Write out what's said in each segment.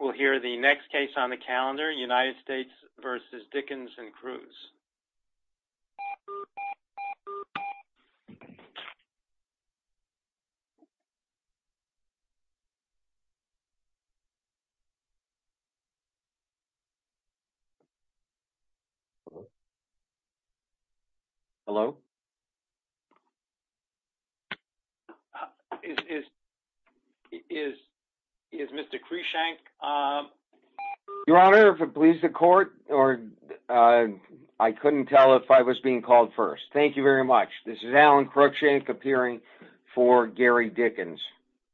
We'll hear the next case on the calendar United States v. Dickens and Cruz Hello I Couldn't tell if I was being called first. Thank you very much. This is Alan Cruickshank appearing for Gary Dickens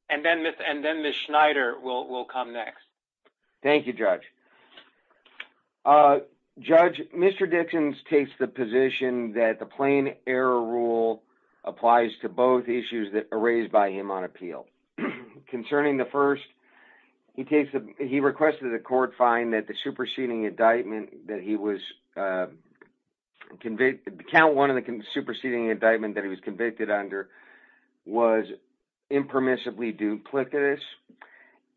And then miss and then miss Schneider will will come next Thank You judge A Judge mr. Dickens takes the position that the plain error rule applies to both issues that are raised by him on appeal concerning the first he takes the he requested the court find that the superseding indictment that he was Convicted to count one of the superseding indictment that he was convicted under was impermissibly duplicitous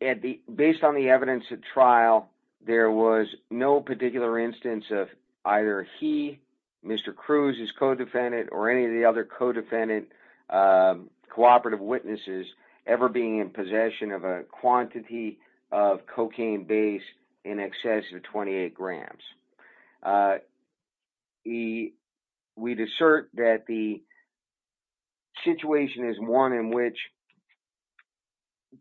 And the based on the evidence at trial there was no particular instance of either he Mr. Cruz is co-defendant or any of the other co-defendant Cooperative witnesses ever being in possession of a quantity of cocaine base in excess of 28 grams He we'd assert that the Situation is one in which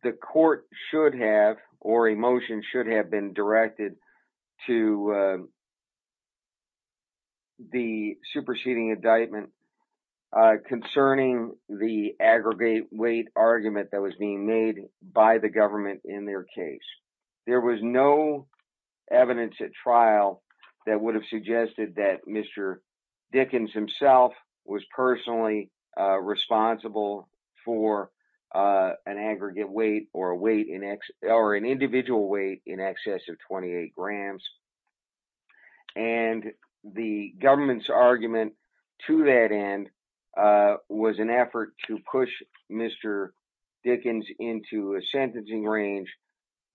The court should have or a motion should have been directed to The superseding indictment Concerning the aggregate weight argument that was being made by the government in their case. There was no Evidence at trial that would have suggested that mr. Dickens himself was personally Responsible for an aggregate weight or a weight in X or an individual weight in excess of 28 grams and The government's argument to that end Was an effort to push mr. Dickens into a sentencing range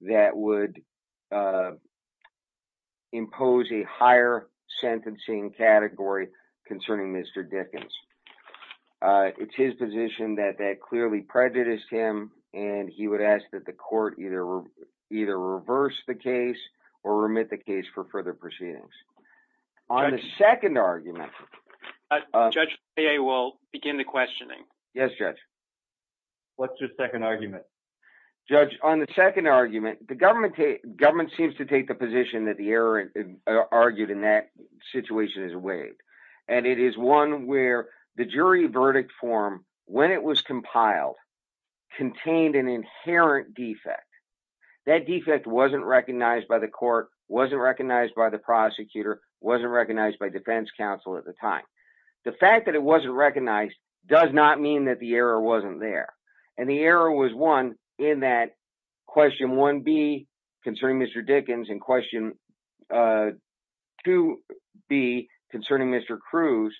that would Impose a higher sentencing category concerning mr. Dickens it's his position that that clearly prejudiced him and he would ask that the court either either reverse the case or remit the case for further proceedings on the second argument Judge hey, I will begin the questioning. Yes judge What's your second argument? Judge on the second argument the government a government seems to take the position that the error Argued in that situation is weighed and it is one where the jury verdict form when it was compiled contained an inherent defect that Defect wasn't recognized by the court wasn't recognized by the prosecutor wasn't recognized by defense counsel at the time The fact that it wasn't recognized does not mean that the error wasn't there and the error was one in that Question one be concerning. Mr. Dickens in question To be concerning. Mr. Cruz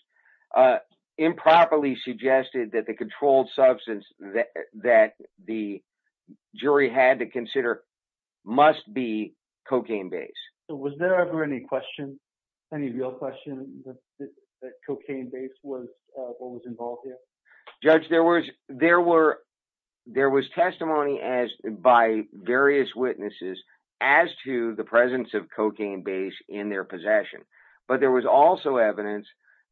Improperly suggested that the controlled substance that that the jury had to consider Must be cocaine base. So was there ever any question any real question? cocaine base was Judge there was there were There was testimony as by various witnesses as to the presence of cocaine base in their possession But there was also evidence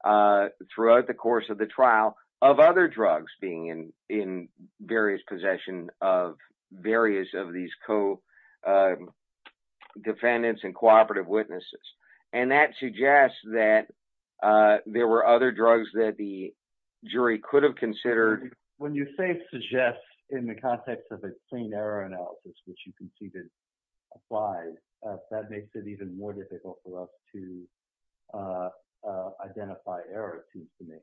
throughout the course of the trial of other drugs being in in various possession of various of these Co-defendants and cooperative witnesses and that suggests that there were other drugs that the Suggests in the context of a clean error analysis, which you can see that applied that makes it even more difficult for us to Identify error seems to me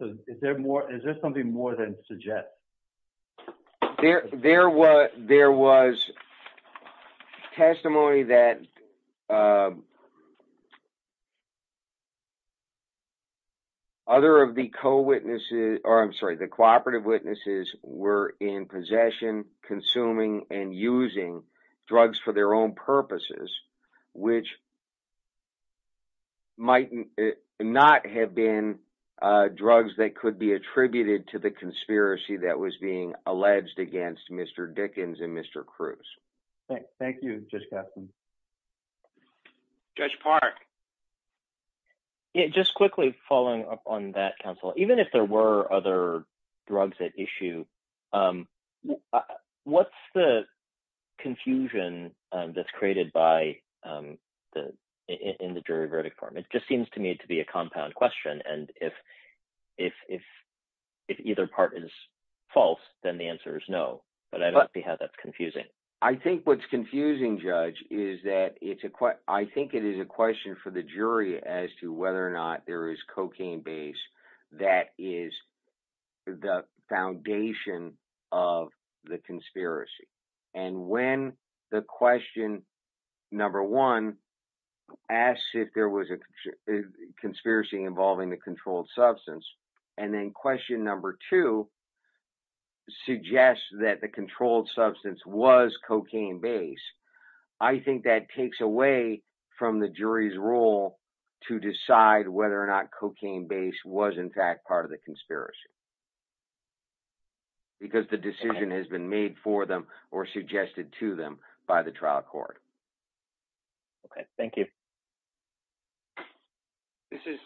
So is there more is there something more than suggest there there were there was Testimony that You Other of the co-witnesses or I'm sorry, the cooperative witnesses were in possession consuming and using drugs for their own purposes, which Might not have been Drugs that could be attributed to the conspiracy that was being alleged against. Mr. Dickens and mr. Cruz Thank you. Just got Judge Park Yeah, just quickly following up on that counsel, even if there were other drugs at issue What's the confusion that's created by the in the jury verdict form it just seems to me to be a compound question and if if If either part is false, then the answer is no, but I don't see how that's confusing I think what's confusing judge is that it's a quite I think it is a question for the jury as to whether or not there is cocaine base. That is the foundation of the conspiracy and when the question number one asks if there was a Conspiracy involving the controlled substance and then question number two Suggests that the controlled substance was cocaine base I think that takes away from the jury's role to decide whether or not cocaine base Was in fact part of the conspiracy Because the decision has been made for them or suggested to them by the trial court Okay. Thank you This is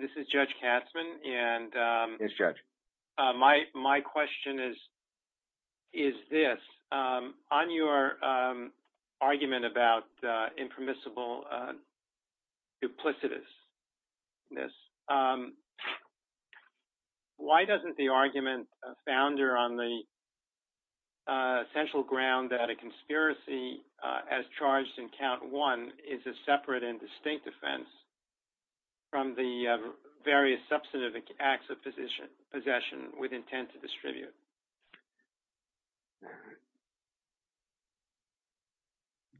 this is judge Katzmann and It's judge my my question is is this on your argument about impermissible Duplicitous this Why doesn't the argument founder on the Essential ground that a conspiracy as charged in count one is a separate and distinct offense From the various substantive acts of position possession with intent to distribute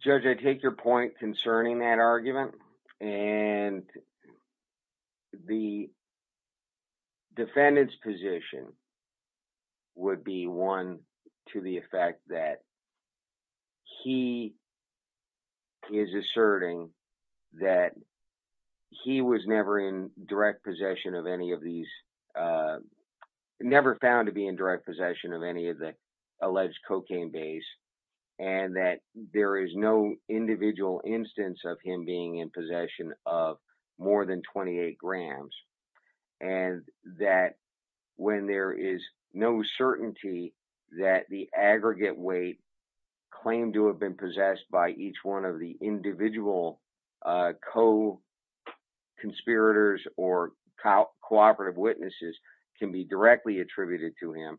Judge I take your point concerning that argument and The Defendant's position would be one to the effect that he is asserting that He was never in direct possession of any of these Never found to be in direct possession of any of the alleged cocaine base and that there is no individual instance of him being in possession of more than 28 grams and That when there is no certainty that the aggregate weight Claimed to have been possessed by each one of the individual Co Conspirators or Cooperative witnesses can be directly attributed to him.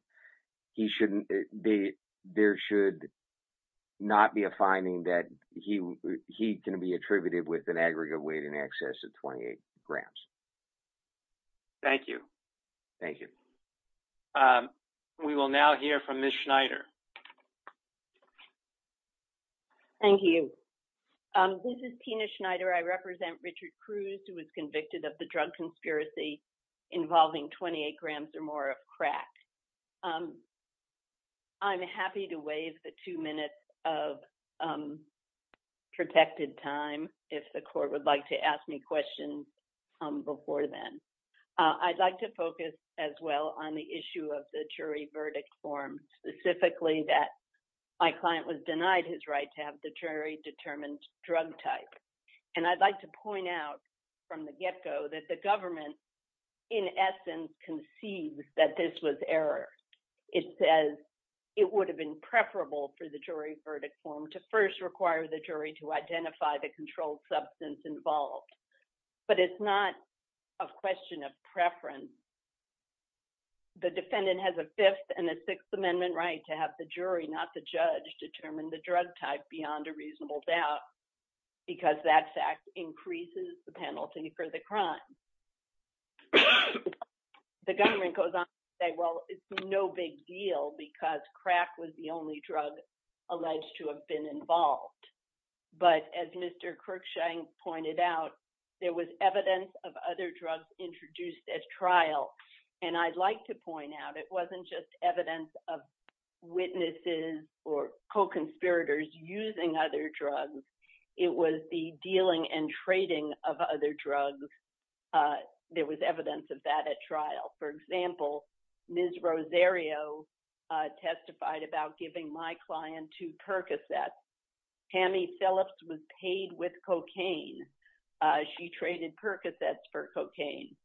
He shouldn't be there should Not be a finding that he he can be attributed with an aggregate weight in excess of 28 grams Thank you. Thank you We will now hear from Miss Schneider Thank you Tina Schneider, I represent Richard Cruz who was convicted of the drug conspiracy involving 28 grams or more of crack I'm happy to waive the two minutes of Protected time if the court would like to ask me questions Before then I'd like to focus as well on the issue of the jury verdict form Specifically that my client was denied his right to have the jury determined drug type And I'd like to point out from the get-go that the government in Essence conceives that this was error It says it would have been preferable for the jury verdict form to first require the jury to identify the controlled substance involved but it's not a question of preference The defendant has a fifth and a sixth amendment right to have the jury not the judge Determine the drug type beyond a reasonable doubt Because that fact increases the penalty for the crime The government goes on say well, it's no big deal because crack was the only drug alleged to have been involved But as mr. Kirk showing pointed out there was evidence of other drugs introduced as trials and I'd like to point out it wasn't just evidence of Witnesses or co-conspirators using other drugs. It was the dealing and trading of other drugs There was evidence of that at trial. For example, ms. Rosario Testified about giving my client to percocet Tammy Phillips was paid with cocaine She traded percocets for cocaine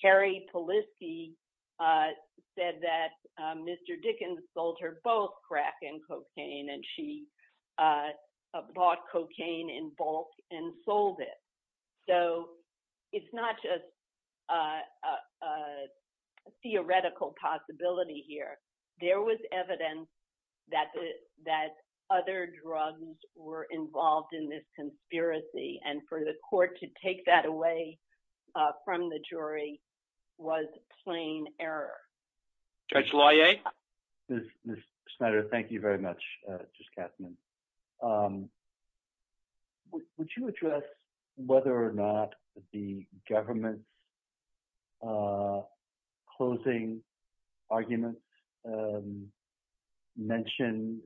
Carrie Polisky Said that mr. Dickens sold her both crack and cocaine and she Bought cocaine in bulk and sold it. So it's not just a Theoretical possibility here there was evidence that That other drugs were involved in this conspiracy and for the court to take that away From the jury was plain error Judge Lai a Spider. Thank you very much. Just captain Would you address whether or not the government's Closing arguments Mention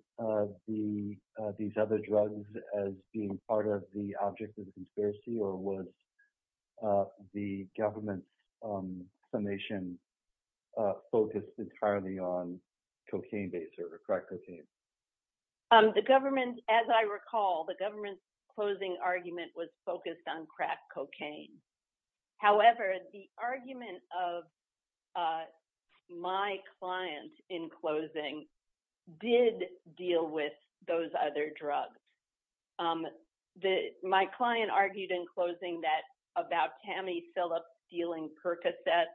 the these other drugs as being part of the object of the conspiracy or was the government summation focused entirely on cocaine base or crack cocaine The government as I recall the government's closing argument was focused on crack cocaine however, the argument of My client in closing did deal with those other drugs The my client argued in closing that about Tammy Phillips dealing percocet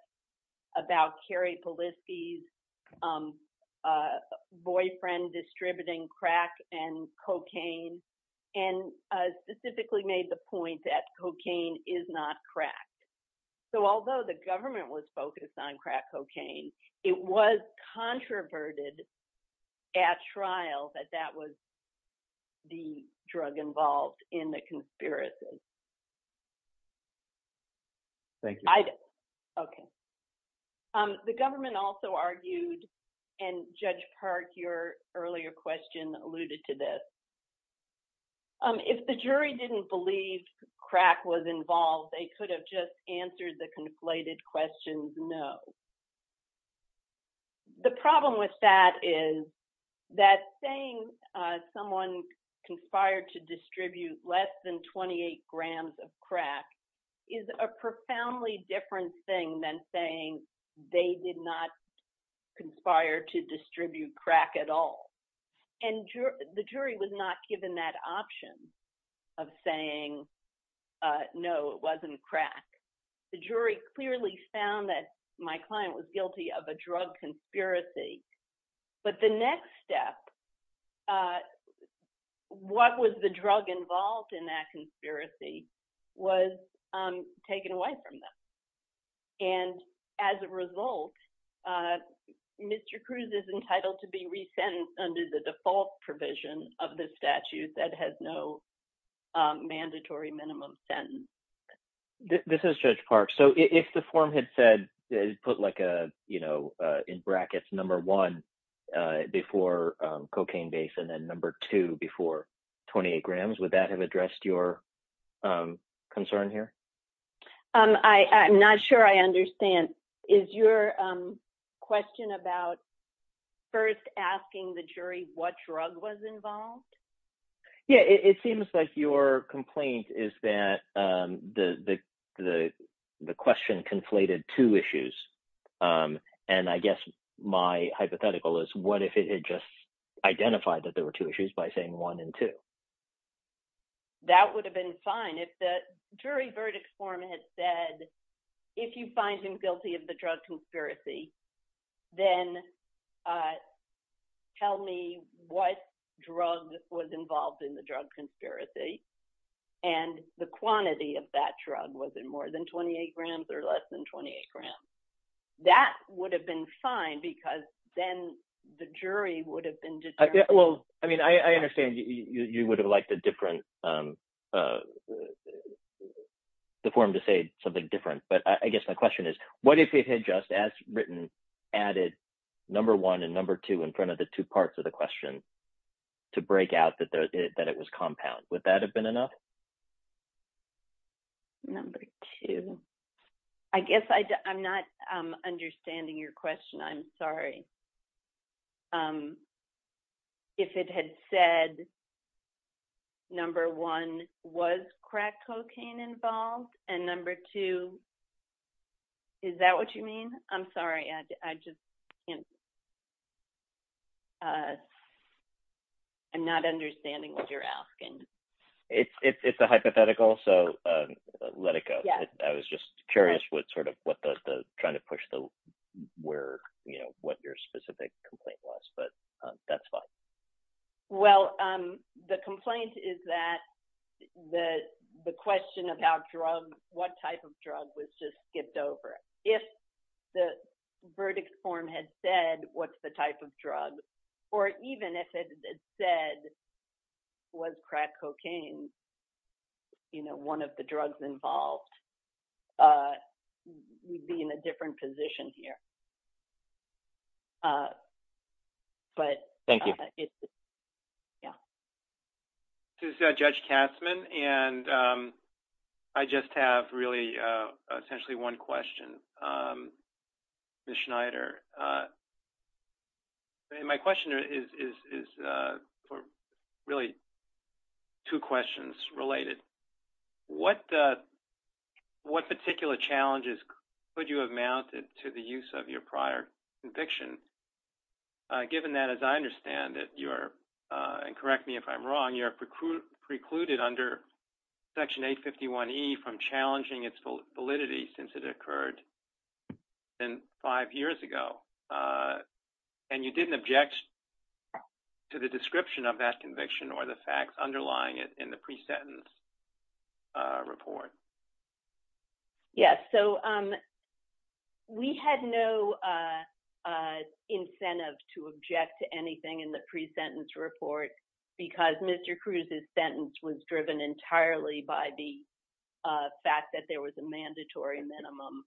about Carrie Polisky's Boyfriend distributing crack and cocaine and Specifically made the point that cocaine is not cracked So although the government was focused on crack cocaine. It was controverted at trial that that was The drug involved in the conspiracies Thank you, okay The government also argued and judge Park your earlier question alluded to this If the jury didn't believe crack was involved they could have just answered the conflated questions. No The problem with that is that saying someone Conspired to distribute less than 28 grams of crack is a profoundly different thing than saying they did not conspire to distribute crack at all and The jury was not given that option of saying No, it wasn't crack. The jury clearly found that my client was guilty of a drug conspiracy But the next step What was the drug involved in that conspiracy was taken away from them and as a result Mr. Cruz is entitled to be resent under the default provision of the statute that has no mandatory minimum sentence This is judge Park, so if the form had said put like a you know in brackets number one before cocaine base and then number two before 28 grams would that have addressed your Concern here. I I'm not sure. I understand is your question about First asking the jury what drug was involved Yeah, it seems like your complaint is that the the question conflated two issues And I guess my hypothetical is what if it had just identified that there were two issues by saying one and two That would have been fine. If the jury verdict form had said if you find him guilty of the drug conspiracy then Tell me what drug was involved in the drug conspiracy and The quantity of that drug was in more than 28 grams or less than 28 grams That would have been fine because then the jury would have been just well I mean, I understand you would have liked a different The form to say something different but I guess my question is what if it had just as written added Number one and number two in front of the two parts of the question To break out that it was compound would that have been enough? Number two, I guess I I'm not understanding your question. I'm sorry If it had said Number one was crack cocaine involved and number two Is that what you mean? I'm sorry. I just I Not understanding what you're asking It's it's a hypothetical. So Let it go. I was just curious. What sort of what does the trying to push the Where you know what your specific complaint was, but that's fine well, um, the complaint is that the the question about drug what type of drug was just skipped over if the Verdict form had said what's the type of drug or even if it said? Was crack cocaine? You know one of the drugs involved We'd be in a different position here But thank you, yeah This is a judge Katzmann and I just have really essentially one question Miss Schneider My question is Really two questions related what What particular challenges could you have mounted to the use of your prior conviction? Given that as I understand that you're and correct me if I'm wrong your preclude precluded under Section 851 e from challenging its full validity since it occurred And five years ago And you didn't object To the description of that conviction or the facts underlying it in the pre-sentence report Yes, so We had no Incentive to object to anything in the pre-sentence report because mr. Cruz's sentence was driven entirely by the Fact that there was a mandatory minimum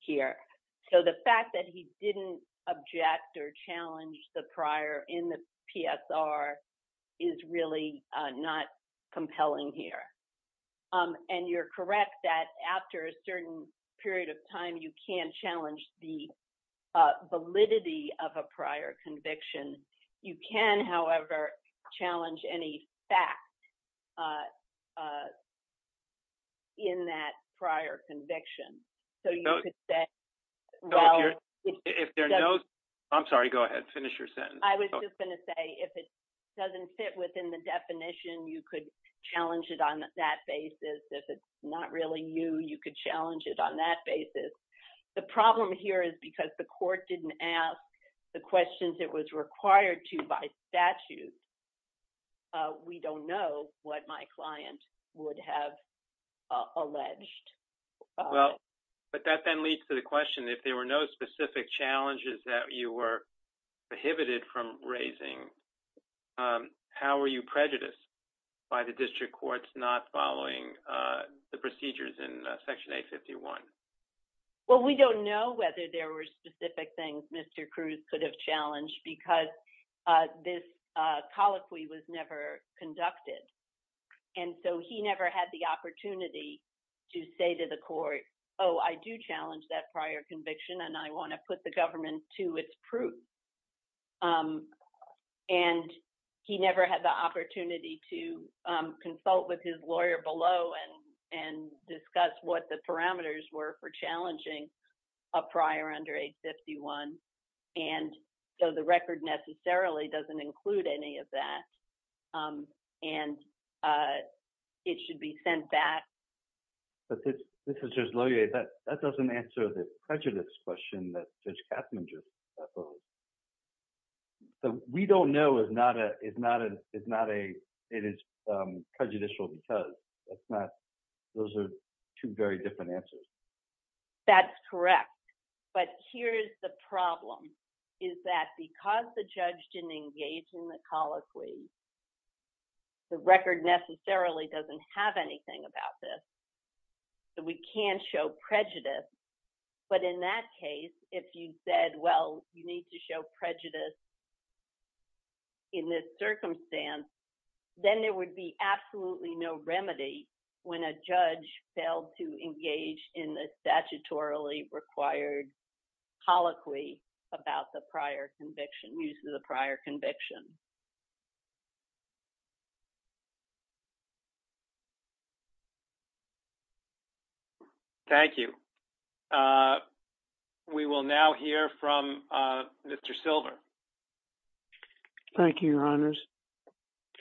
Here. So the fact that he didn't object or challenge the prior in the PSR is really not compelling here and you're correct that after a certain period of time you can't challenge the Validity of a prior conviction you can however challenge any fact In That prior conviction so you could say If there knows I'm sorry, go ahead finish your sentence I was just going to say if it doesn't fit within the definition you could Challenge it on that basis if it's not really you you could challenge it on that basis The problem here is because the court didn't ask the questions. It was required to by statute We don't know what my client would have alleged Well, but that then leads to the question if there were no specific challenges that you were prohibited from raising How are you prejudiced by the district courts not following the procedures in section 851? Well, we don't know whether there were specific things. Mr. Cruz could have challenged because This Colloquy was never conducted. And so he never had the opportunity to say to the court Oh, I do challenge that prior conviction and I want to put the government to its proof and he never had the opportunity to consult with his lawyer below and and discuss what the parameters were for challenging a prior under 851 and So the record necessarily doesn't include any of that and It should be sent back But this this is just lawyer that that doesn't answer the prejudice question that judge Katzmanger So we don't know is not a it's not a it's not a it is Prejudicial because that's not those are two very different answers That's correct, but here's the problem is that because the judge didn't engage in the colloquy The record necessarily doesn't have anything about this So we can't show prejudice But in that case if you said well, you need to show prejudice in this circumstance Then there would be absolutely no remedy when a judge failed to engage in the statutorily required Colloquy about the prior conviction use of the prior conviction Thank you We will now hear from Mr. Silver Thank You your honors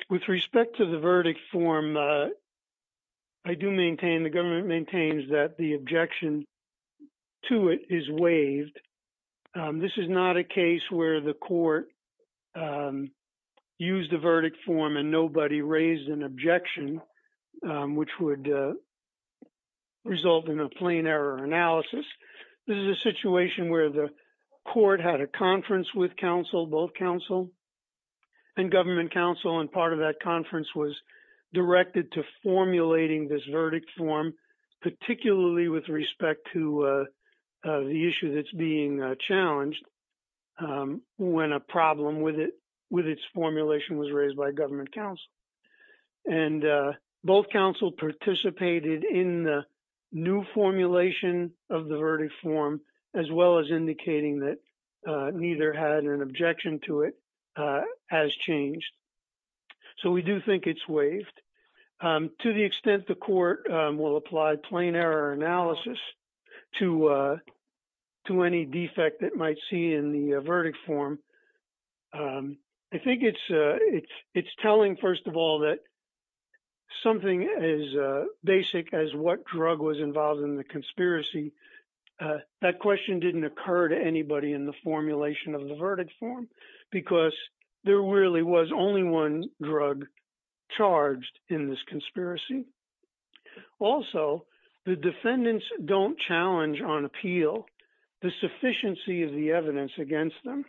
With respect to the verdict form I do maintain the government maintains that the objection To it is waived This is not a case where the court Used the verdict form and nobody raised an objection which would Result in a plain error analysis. This is a situation where the court had a conference with counsel both counsel and government counsel and part of that conference was directed to formulating this verdict form particularly with respect to The issue that's being challenged when a problem with it with its formulation was raised by government counsel and both counsel participated in the new formulation of the verdict form as well as indicating that Neither had an objection to it as changed So we do think it's waived to the extent the court will apply plain error analysis to To any defect that might see in the verdict form I think it's it's it's telling first of all that Something as basic as what drug was involved in the conspiracy that question didn't occur to anybody in the formulation of the verdict form because There really was only one drug charged in this conspiracy Also, the defendants don't challenge on appeal the sufficiency of the evidence against them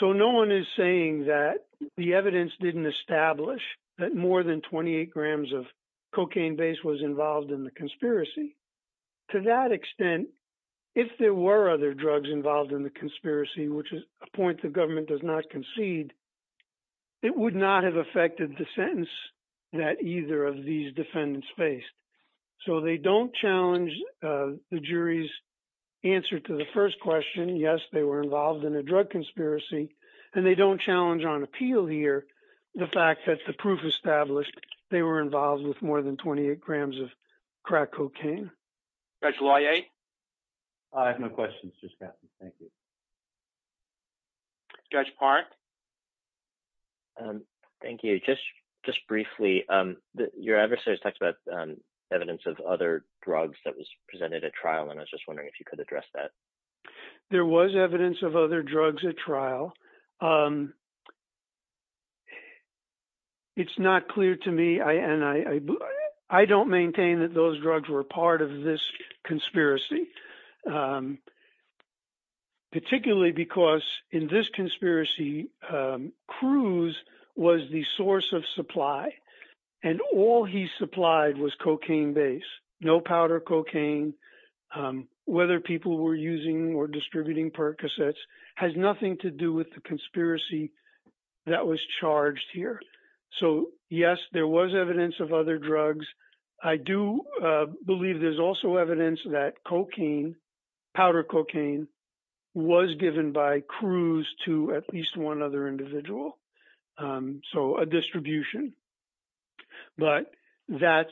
so no one is saying that the evidence didn't establish that more than 28 grams of Cocaine base was involved in the conspiracy To that extent if there were other drugs involved in the conspiracy, which is a point the government does not concede It would not have affected the sentence that either of these defendants faced so they don't challenge the jury's Answer to the first question. Yes, they were involved in a drug conspiracy and they don't challenge on appeal here The fact that the proof established they were involved with more than 28 grams of crack cocaine That's why a I have no questions. Just happen. Thank you Judge Park Thank you, just just briefly Your adversaries talked about evidence of other drugs that was presented at trial and I was just wondering if you could address that There was evidence of other drugs at trial It's not clear to me I and I I don't maintain that those drugs were part of this conspiracy Particularly because in this conspiracy Cruz was the source of supply and all he supplied was cocaine base No powder cocaine Whether people were using or distributing percocets has nothing to do with the conspiracy That was charged here. So yes, there was evidence of other drugs. I do Believe there's also evidence that cocaine powder cocaine Was given by Cruz to at least one other individual so a distribution but that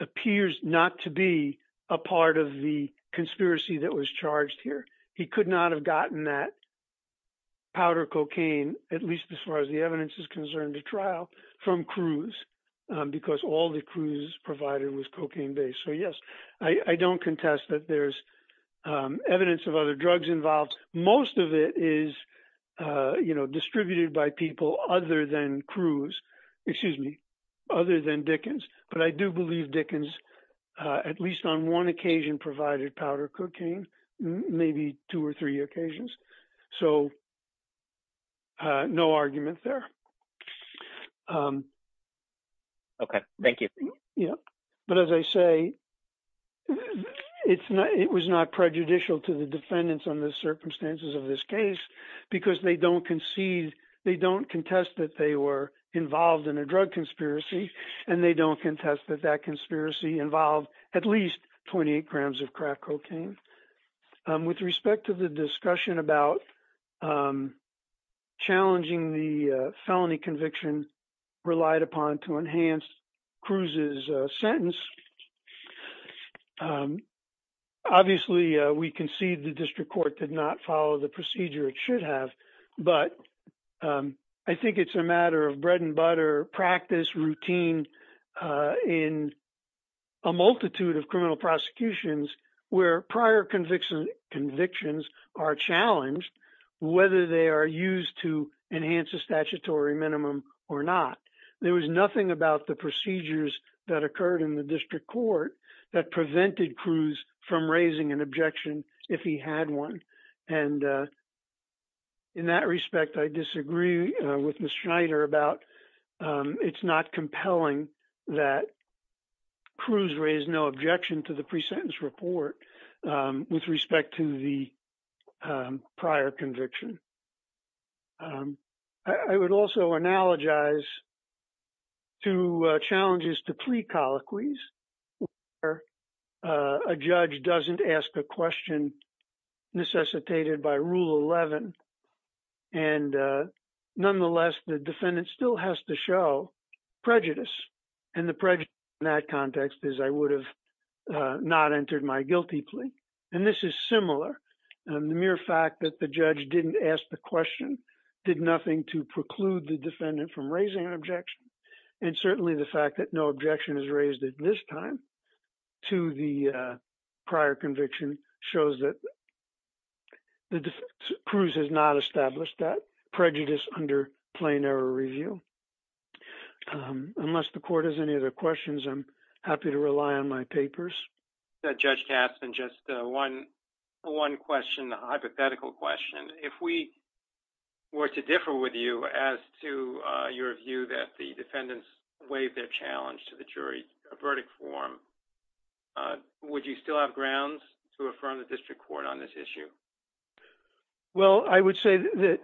Appears not to be a part of the conspiracy that was charged here. He could not have gotten that Powder cocaine at least as far as the evidence is concerned to trial from Cruz Because all the Cruz provided was cocaine base. So yes, I I don't contest that there's evidence of other drugs involved most of it is You know distributed by people other than Cruz. Excuse me other than Dickens, but I do believe Dickens At least on one occasion provided powder cocaine maybe two or three occasions, so No argument there Okay, thank you, yeah, but as I say It's not it was not prejudicial to the defendants on the circumstances of this case because they don't concede They don't contest that they were involved in a drug conspiracy and they don't contest that that conspiracy involved at least 28 grams of crack cocaine with respect to the discussion about Challenging the felony conviction relied upon to enhance Cruz's sentence Obviously we concede the district court did not follow the procedure it should have but I think it's a matter of bread-and-butter practice routine in a multitude of criminal prosecutions where prior conviction convictions are challenged whether they are Used to enhance a statutory minimum or not There was nothing about the procedures that occurred in the district court that prevented Cruz from raising an objection if he had one and In that respect I disagree with miss Schneider about it's not compelling that Cruz raised no objection to the pre-sentence report with respect to the prior conviction I would also analogize to challenges to plea colloquies where a judge doesn't ask a question necessitated by rule 11 and Nonetheless the defendant still has to show Prejudice and the prejudice in that context is I would have Not entered my guilty plea and this is similar and the mere fact that the judge didn't ask the question Did nothing to preclude the defendant from raising an objection and certainly the fact that no objection is raised at this time to the prior conviction shows that The Cruz has not established that prejudice under plain error review Unless the court has any other questions, I'm happy to rely on my papers that judge cast and just one one question the hypothetical question if we Were to differ with you as to your view that the defendants waived their challenge to the jury a verdict form Would you still have grounds to affirm the district court on this issue? Well, I would say that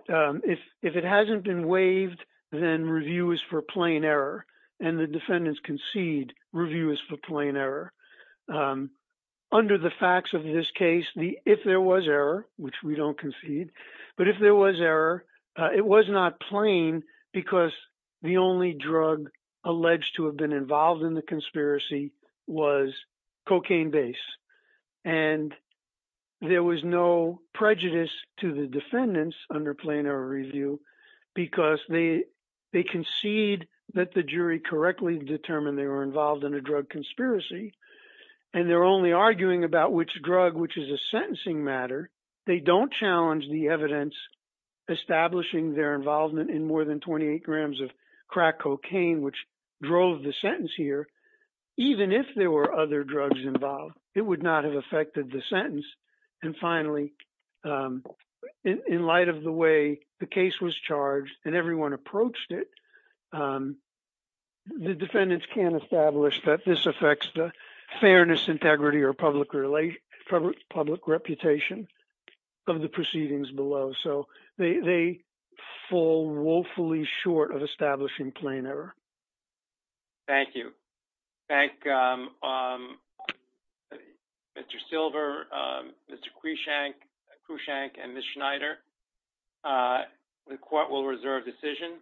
if if it hasn't been waived then review is for plain error and the defendants concede Review is for plain error Under the facts of this case the if there was error, which we don't concede But if there was error, it was not plain because the only drug alleged to have been involved in the conspiracy was cocaine base and There was no prejudice to the defendants under plain error review because they they concede that the jury correctly determined they were involved in a drug conspiracy and They're only arguing about which drug which is a sentencing matter. They don't challenge the evidence Establishing their involvement in more than 28 grams of crack cocaine, which drove the sentence here Even if there were other drugs involved it would not have affected the sentence and finally In light of the way, the case was charged and everyone approached it The defendants can't establish that this affects the fairness integrity or public relation public reputation of the proceedings below so they Fall woefully short of establishing plain error Thank you, thank Mr. Silver, mr. Cui shank who shank and miss Schneider The court will reserve decision